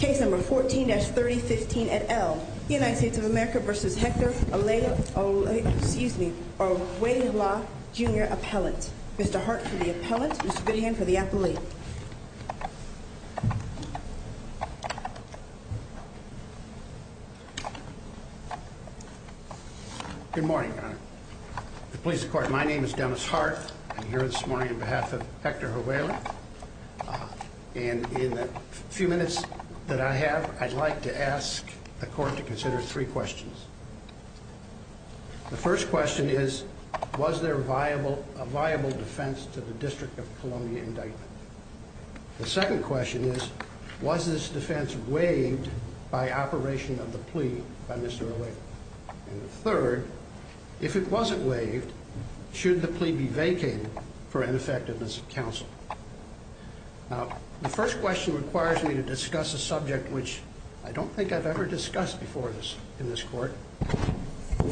Case number 14-3015 et al., United States of America v. Hector Orjuela, Jr., Appellant. Mr. Hart for the Appellant, Mr. Goodhand for the Appellate. Good morning, Your Honor. The Police Department, my name is Dennis Hart. I'm here this morning on behalf of Hector Orjuela. And in the few minutes that I have, I'd like to ask the Court to consider three questions. The first question is, was there a viable defense to the District of Columbia indictment? The second question is, was this defense waived by operation of the plea by Mr. Orjuela? And the third, if it wasn't waived, should the plea be vacated for ineffectiveness of counsel? Now, the first question requires me to discuss a subject which I don't think I've ever discussed before in this Court.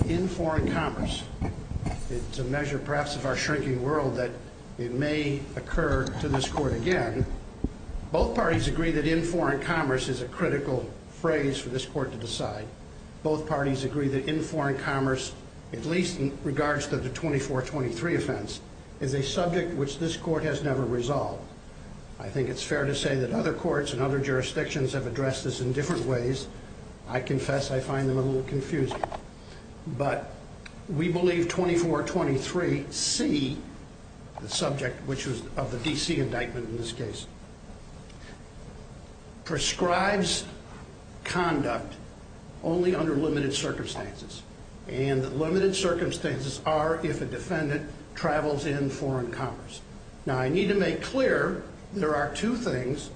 In foreign commerce. It's a measure perhaps of our shrinking world that it may occur to this Court again. Both parties agree that in foreign commerce is a critical phrase for this Court to decide. Both parties agree that in foreign commerce, at least in regards to the 2423 offense, is a subject which this Court has never resolved. I think it's fair to say that other courts and other jurisdictions have addressed this in different ways. I confess I find them a little confusing. But we believe 2423C, the subject which was of the D.C. indictment in this case, prescribes conduct only under limited circumstances. And the limited circumstances are if a defendant travels in foreign commerce. Now, I need to make clear there are two things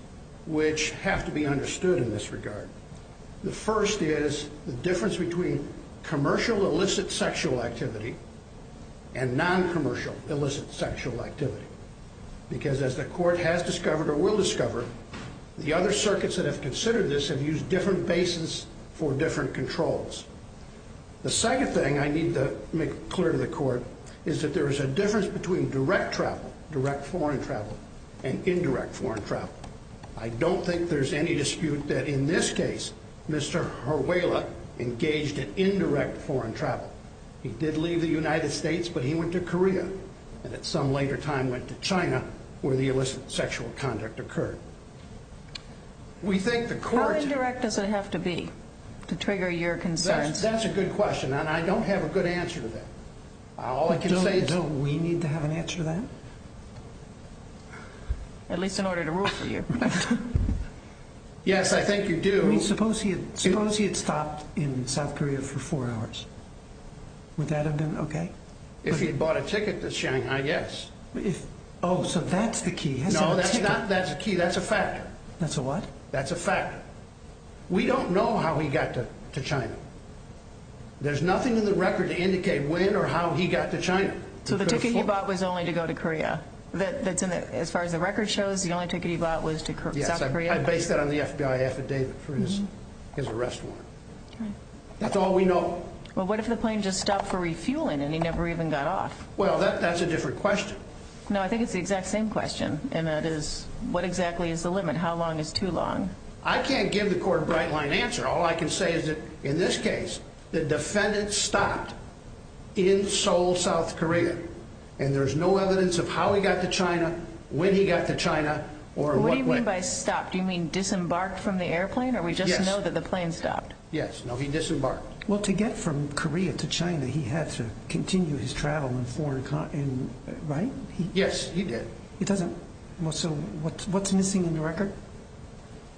which have to be understood in this regard. The first is the difference between commercial illicit sexual activity and noncommercial illicit sexual activity. Because as the Court has discovered or will discover, the other circuits that have considered this have used different basis for different controls. The second thing I need to make clear to the Court is that there is a difference between direct travel, direct foreign travel, and indirect foreign travel. I don't think there's any dispute that in this case, Mr. Haruela engaged in indirect foreign travel. He did leave the United States, but he went to Korea. And at some later time went to China, where the illicit sexual conduct occurred. We think the Court... How indirect does it have to be to trigger your concerns? That's a good question, and I don't have a good answer to that. All I can say is... Don't we need to have an answer to that? At least in order to rule for you. Yes, I think you do. Suppose he had stopped in South Korea for four hours. Would that have been okay? If he bought a ticket to Shanghai, yes. Oh, so that's the key. No, that's not the key. That's a fact. That's a what? That's a fact. We don't know how he got to China. There's nothing in the record to indicate when or how he got to China. So the ticket he bought was only to go to Korea? As far as the record shows, the only ticket he bought was to South Korea? Yes, I based that on the FBI affidavit for his arrest warrant. That's all we know. Well, what if the plane just stopped for refueling and he never even got off? Well, that's a different question. No, I think it's the exact same question. And that is, what exactly is the limit? How long is too long? I can't give the Court a bright-line answer. All I can say is that in this case, the defendant stopped in Seoul, South Korea, and there's no evidence of how he got to China, when he got to China, or in what way. What do you mean by stopped? Do you mean disembarked from the airplane? Yes. Or we just know that the plane stopped? Yes. No, he disembarked. Well, to get from Korea to China, he had to continue his travel in foreign countries, right? Yes, he did. He doesn't. So what's missing in the record?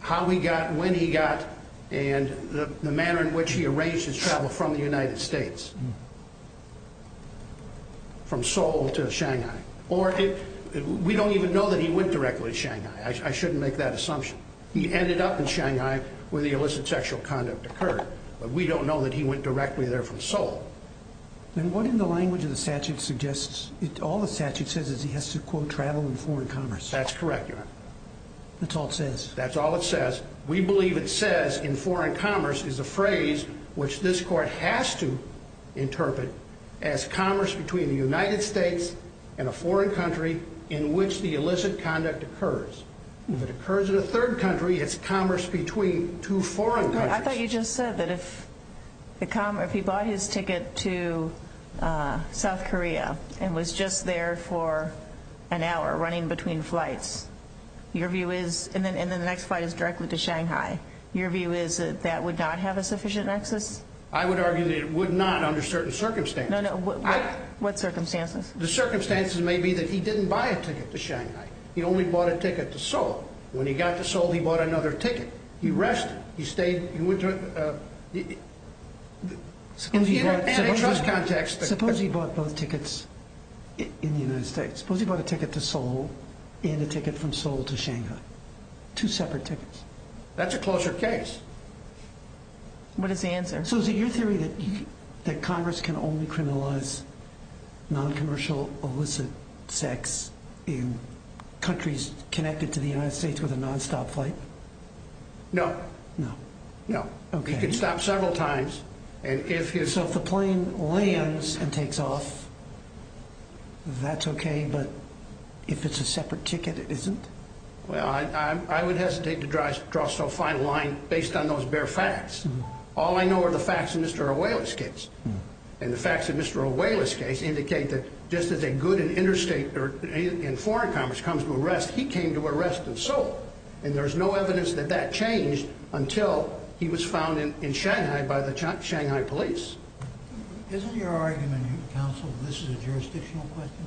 How he got, when he got, and the manner in which he arranged his travel from the United States, from Seoul to Shanghai. Or we don't even know that he went directly to Shanghai. I shouldn't make that assumption. He ended up in Shanghai where the illicit sexual conduct occurred, but we don't know that he went directly there from Seoul. Then what in the language of the statute suggests, all the statute says is he has to, quote, travel in foreign commerce. That's correct, Your Honor. That's all it says. That's all it says. We believe it says in foreign commerce is a phrase which this court has to interpret as commerce between the United States and a foreign country in which the illicit conduct occurs. If it occurs in a third country, it's commerce between two foreign countries. I thought you just said that if he bought his ticket to South Korea and was just there for an hour running between flights, your view is, and then the next flight is directly to Shanghai, your view is that that would not have a sufficient access? I would argue that it would not under certain circumstances. No, no. What circumstances? The circumstances may be that he didn't buy a ticket to Shanghai. He only bought a ticket to Seoul. When he got to Seoul, he bought another ticket. He rested. He stayed, he went to, uh, Suppose he bought both tickets in the United States. Suppose he bought a ticket to Seoul and a ticket from Seoul to Shanghai. Two separate tickets. That's a closer case. What is the answer? So is it your theory that Congress can only criminalize noncommercial illicit sex in countries connected to the United States with a nonstop flight? No. No. No. Okay. He can stop several times, and if his So if the plane lands and takes off, that's okay, but if it's a separate ticket, it isn't? Well, I would hesitate to draw so fine a line based on those bare facts. All I know are the facts of Mr. Auela's case, and the facts of Mr. Auela's case indicate that just as a good interstate or in foreign commerce comes to arrest, he came to arrest in Seoul, and there's no evidence that that changed until he was found in Shanghai by the Shanghai police. Isn't your argument, Counsel, that this is a jurisdictional question?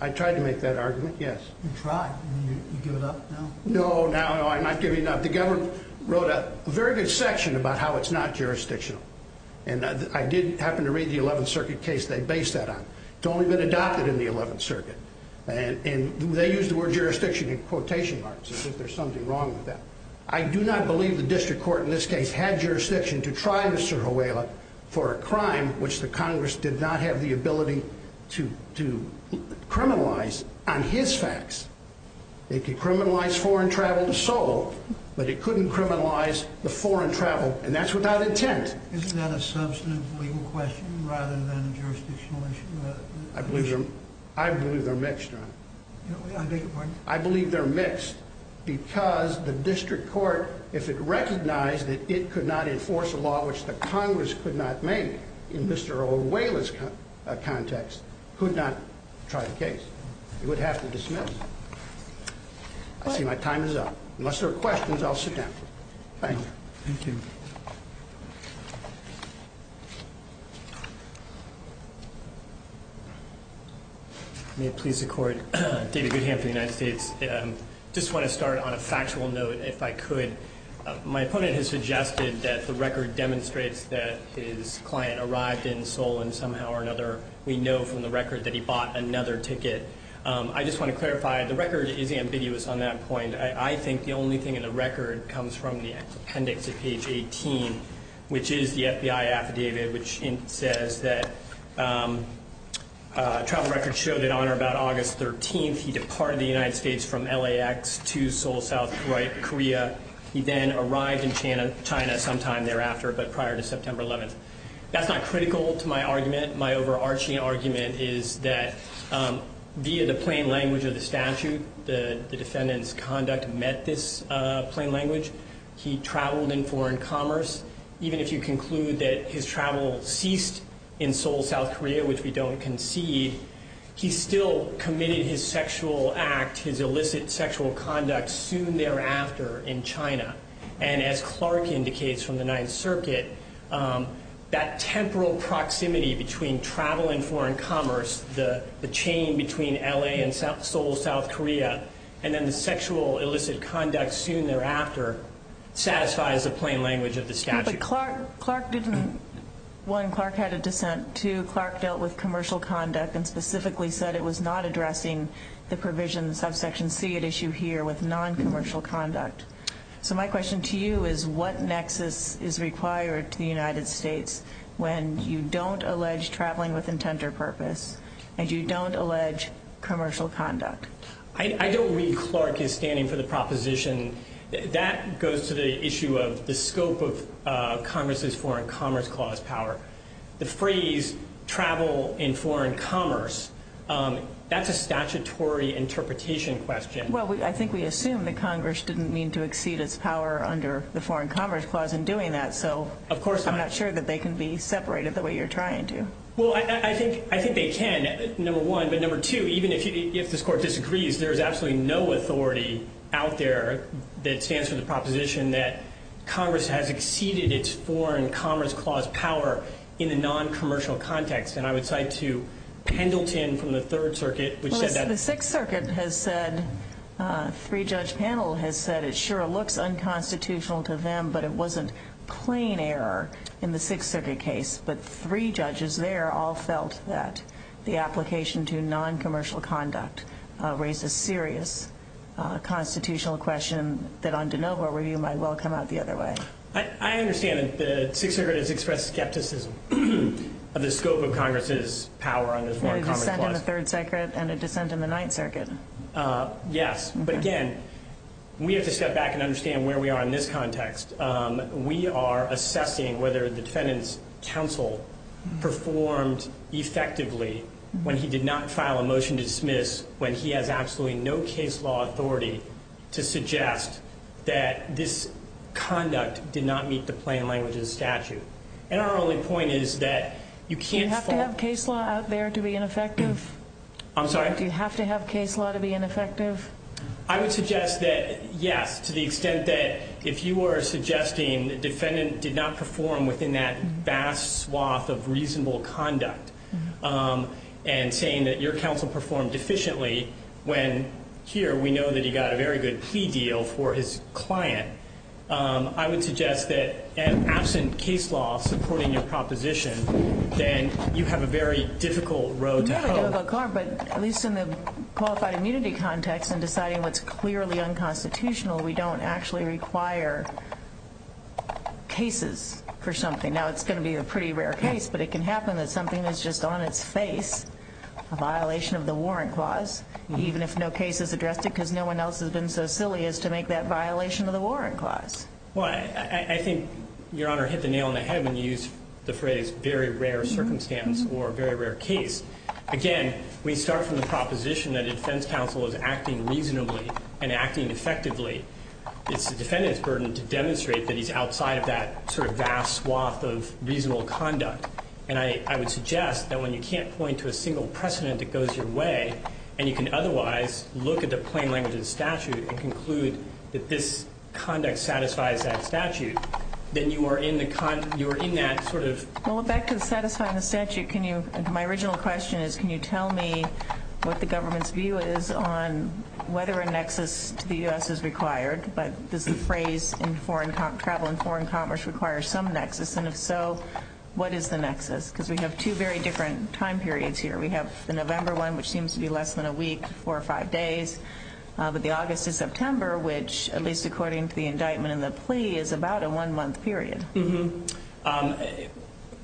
I tried to make that argument, yes. You tried, and you give it up now? No, no, no, I'm not giving it up. The government wrote a very good section about how it's not jurisdictional, and I did happen to read the 11th Circuit case they based that on. It's only been adopted in the 11th Circuit, and they used the word jurisdiction in quotation marks as if there's something wrong with that. I do not believe the district court in this case had jurisdiction to try Mr. Auela for a crime which the Congress did not have the ability to criminalize on his facts. It could criminalize foreign travel to Seoul, but it couldn't criminalize the foreign travel, and that's without intent. Isn't that a substantive legal question rather than a jurisdictional issue? I believe they're mixed, John. I beg your pardon? I believe they're mixed because the district court, if it recognized that it could not enforce a law which the Congress could not make in Mr. Auela's context, could not try the case. It would have to dismiss it. I see my time is up. Unless there are questions, I'll sit down. Thank you. Thank you. David Goodham for the United States. I just want to start on a factual note, if I could. My opponent has suggested that the record demonstrates that his client arrived in Seoul and somehow or another we know from the record that he bought another ticket. I just want to clarify, the record is ambiguous on that point. I think the only thing in the record comes from the appendix at page 18, which is the FBI affidavit which says that travel records show that on or about August 13th, he departed the United States from LAX to Seoul, South Korea. He then arrived in China sometime thereafter but prior to September 11th. That's not critical to my argument. My overarching argument is that via the plain language of the statute, the defendant's conduct met this plain language. He traveled in foreign commerce. Even if you conclude that his travel ceased in Seoul, South Korea, which we don't concede, he still committed his sexual act, his illicit sexual conduct soon thereafter in China. And as Clark indicates from the Ninth Circuit, that temporal proximity between travel and foreign commerce, the chain between LA and Seoul, South Korea, and then the sexual illicit conduct soon thereafter satisfies the plain language of the statute. But Clark didn't. One, Clark had a dissent. Two, Clark dealt with commercial conduct and specifically said it was not addressing the provisions of Section C at issue here with noncommercial conduct. So my question to you is what nexus is required to the United States when you don't allege traveling with intent or purpose and you don't allege commercial conduct? I don't read Clark as standing for the proposition. That goes to the issue of the scope of Congress's Foreign Commerce Clause power. The phrase travel in foreign commerce, that's a statutory interpretation question. Well, I think we assume that Congress didn't mean to exceed its power under the Foreign Commerce Clause in doing that. Of course not. So I'm not sure that they can be separated the way you're trying to. Well, I think they can, number one. But number two, even if this Court disagrees, there's absolutely no authority out there that stands for the proposition that Congress has exceeded its Foreign Commerce Clause power in the noncommercial context. And I would cite to Pendleton from the Third Circuit. The Sixth Circuit has said, three-judge panel has said, it sure looks unconstitutional to them, but it wasn't plain error in the Sixth Circuit case. But three judges there all felt that the application to noncommercial conduct raised a serious constitutional question that on de novo review might well come out the other way. I understand that the Sixth Circuit has expressed skepticism of the scope of Congress's power under the Foreign Commerce Clause. A dissent in the Third Circuit and a dissent in the Ninth Circuit. Yes. But again, we have to step back and understand where we are in this context. We are assessing whether the defendant's counsel performed effectively when he did not file a motion to dismiss when he has absolutely no case law authority to suggest that this conduct did not meet the plain language of the statute. And our only point is that you can't fall— Do you have to have case law out there to be ineffective? I'm sorry? Do you have to have case law to be ineffective? I would suggest that, yes, to the extent that if you are suggesting the defendant did not perform within that vast swath of reasonable conduct and saying that your counsel performed deficiently when here we know that he got a very good plea deal for his client, I would suggest that absent case law supporting your proposition, then you have a very difficult road to hoe. It's really difficult, Clark, but at least in the qualified immunity context and deciding what's clearly unconstitutional, we don't actually require cases for something. Now, it's going to be a pretty rare case, but it can happen that something is just on its face, a violation of the warrant clause, even if no case has addressed it because no one else has been so silly as to make that violation of the warrant clause. Well, I think Your Honor hit the nail on the head when you used the phrase or a very rare case. Again, we start from the proposition that a defense counsel is acting reasonably and acting effectively. It's the defendant's burden to demonstrate that he's outside of that sort of vast swath of reasonable conduct, and I would suggest that when you can't point to a single precedent that goes your way and you can otherwise look at the plain language of the statute and conclude that this conduct satisfies that statute, then you are in that sort of Well, back to satisfying the statute, my original question is, can you tell me what the government's view is on whether a nexus to the U.S. is required, but does the phrase travel and foreign commerce require some nexus, and if so, what is the nexus? Because we have two very different time periods here. We have the November one, which seems to be less than a week, four or five days, but the August and September, which, at least according to the indictment and the plea, is about a one-month period.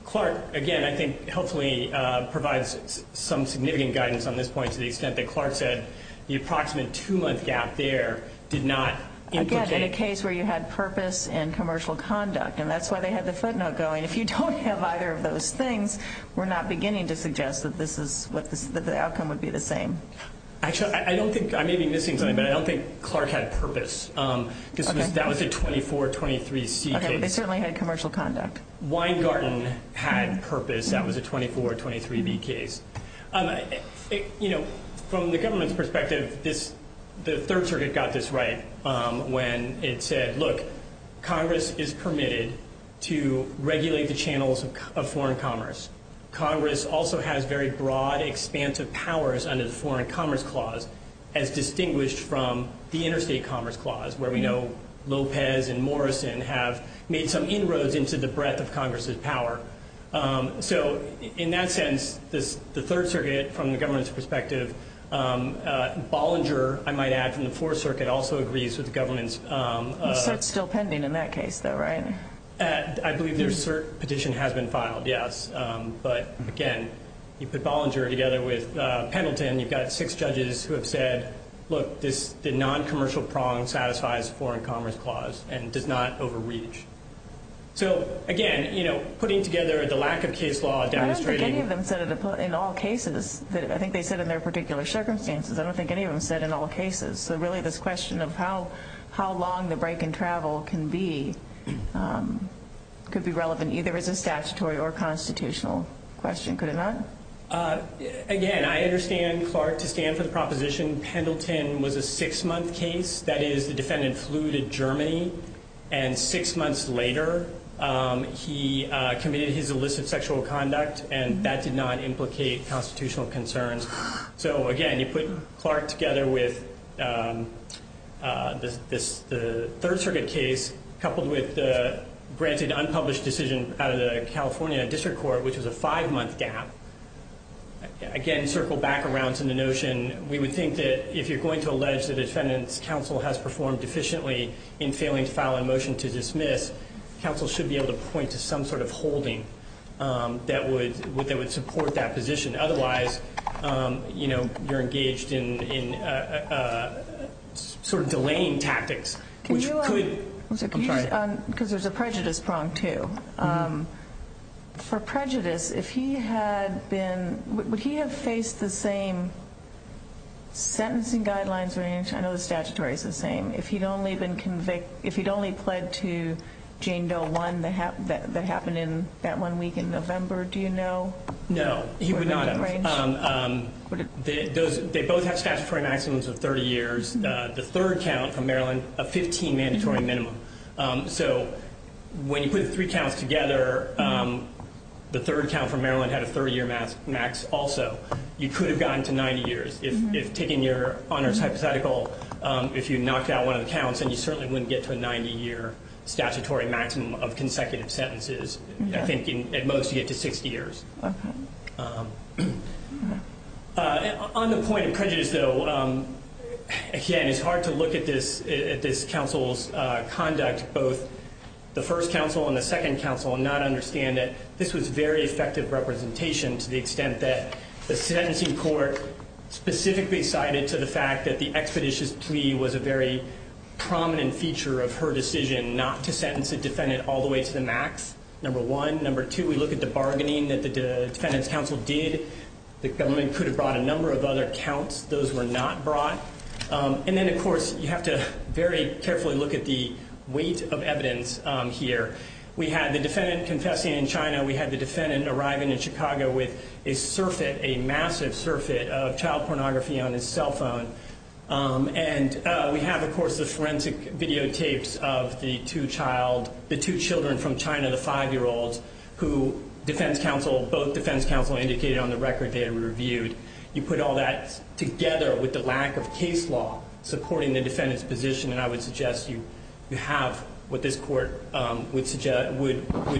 Clark, again, I think helpfully provides some significant guidance on this point to the extent that Clark said the approximate two-month gap there did not indicate Again, in a case where you had purpose in commercial conduct, and that's why they had the footnote going. If you don't have either of those things, we're not beginning to suggest that the outcome would be the same. Actually, I may be missing something, but I don't think Clark had purpose. That was a 24-23 C case. They certainly had commercial conduct. Weingarten had purpose. That was a 24-23 B case. From the government's perspective, the Third Circuit got this right when it said, look, Congress is permitted to regulate the channels of foreign commerce. Congress also has very broad, expansive powers under the Foreign Commerce Clause as distinguished from the Interstate Commerce Clause, where we know Lopez and Morrison have made some inroads into the breadth of Congress's power. In that sense, the Third Circuit, from the government's perspective, Bollinger, I might add, from the Fourth Circuit, also agrees with the government's The cert's still pending in that case, though, right? I believe their cert petition has been filed, yes. But, again, you put Bollinger together with Pendleton, you've got six judges who have said, look, the noncommercial prong satisfies the Foreign Commerce Clause and does not overreach. So, again, putting together the lack of case law demonstrating I don't think any of them said it in all cases. I think they said in their particular circumstances. I don't think any of them said in all cases. So, really, this question of how long the break in travel can be could be relevant either as a statutory or constitutional question, could it not? Again, I understand, Clark, to stand for the proposition, Pendleton was a six-month case. That is, the defendant flew to Germany and six months later he committed his illicit sexual conduct and that did not implicate constitutional concerns. So, again, you put Clark together with the Third Circuit case coupled with the granted unpublished decision out of the California District Court, which was a five-month gap. Again, circle back around to the notion, we would think that if you're going to allege that a defendant's counsel has performed deficiently in failing to file a motion to dismiss, counsel should be able to point to some sort of holding that would support that position. Otherwise, you know, you're engaged in sort of delaying tactics, which could Because there's a prejudice prong, too. For prejudice, if he had been, would he have faced the same sentencing guidelines range? I know the statutory is the same. If he'd only pled to Jane Doe 1 that happened in that one week in November, do you know? No, he would not have. They both have statutory maximums of 30 years. The third count from Maryland, a 15 mandatory minimum. So when you put the three counts together, the third count from Maryland had a 30-year max also. You could have gotten to 90 years. If taking your honors hypothetical, if you knocked out one of the counts, then you certainly wouldn't get to a 90-year statutory maximum of consecutive sentences. I think at most you get to 60 years. On the point of prejudice, though, again, it's hard to look at this counsel's conduct, both the first counsel and the second counsel, and not understand that this was very effective representation to the extent that the sentencing court specifically cited to the fact that the expeditious plea was a very prominent feature of her decision not to sentence a defendant all the way to the max, number one. Number two, we look at the bargaining that the defendant's counsel did. The government could have brought a number of other counts. Those were not brought. And then, of course, you have to very carefully look at the weight of evidence here. We had the defendant confessing in China. We had the defendant arriving in Chicago with a surfeit, a massive surfeit, of child pornography on his cell phone. And we have, of course, the forensic videotapes of the two children from China, the five-year-olds, who both defense counsel indicated on the record they had reviewed. You put all that together with the lack of case law supporting the defendant's position, and I would suggest you have what this court would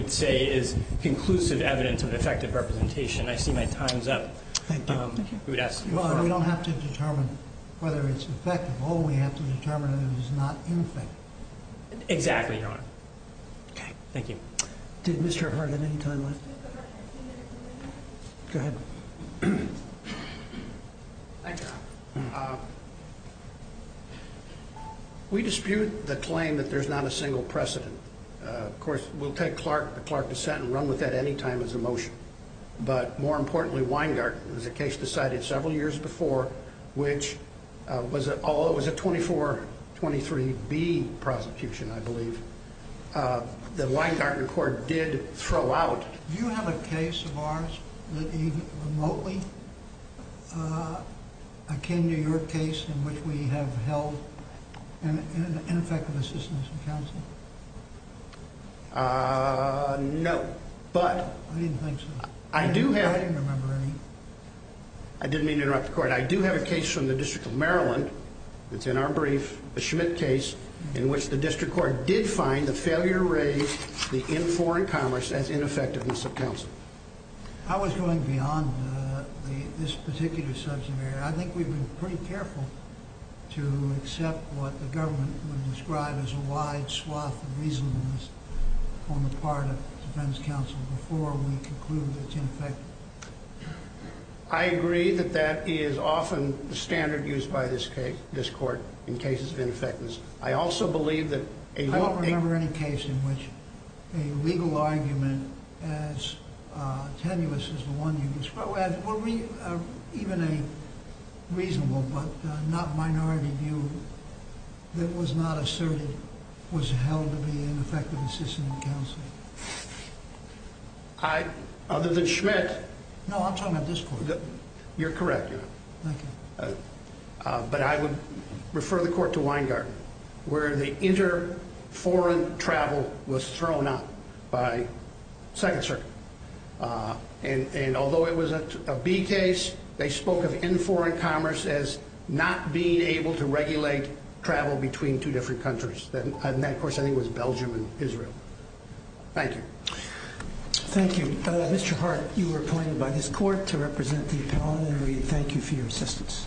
say is conclusive evidence of an effective representation. Thank you. Well, we don't have to determine whether it's effective. All we have to determine is it is not ineffective. Exactly, Your Honor. Okay, thank you. Did Mr. Herndon have any time left? Go ahead. Thank you, Your Honor. We dispute the claim that there's not a single precedent. Of course, we'll take the Clark dissent and run with that any time as a motion. But more importantly, Weingarten was a case decided several years before, which was a 2423B prosecution, I believe, that Weingarten Court did throw out. Do you have a case of ours that even remotely akin to your case in which we have held ineffective assistance in counseling? No, but... I didn't think so. I do have... I didn't remember any. I didn't mean to interrupt the Court. I do have a case from the District of Maryland that's in our brief, a Schmidt case, in which the District Court did find the failure to raise the in foreign commerce as ineffectiveness of counsel. I was going beyond this particular subject area. I think we've been pretty careful to accept what the government would describe as a wide swath of reasonableness on the part of defense counsel before we conclude that it's ineffective. I agree that that is often the standard used by this Court in cases of ineffectiveness. I also believe that... I don't remember any case in which a legal argument as tenuous as the one you described, or even a reasonable but not minority view that was not asserted was held to be ineffective assistance in counseling. Other than Schmidt... No, I'm talking about this Court. You're correct. Thank you. But I would refer the Court to Weingarten, where the inter-foreign travel was thrown out by Second Circuit. And although it was a B case, they spoke of in foreign commerce as not being able to regulate travel between two different countries. And that, of course, I think was Belgium and Israel. Thank you. Thank you. Mr. Hart, you were appointed by this Court to represent the appellant. Thank you for your assistance.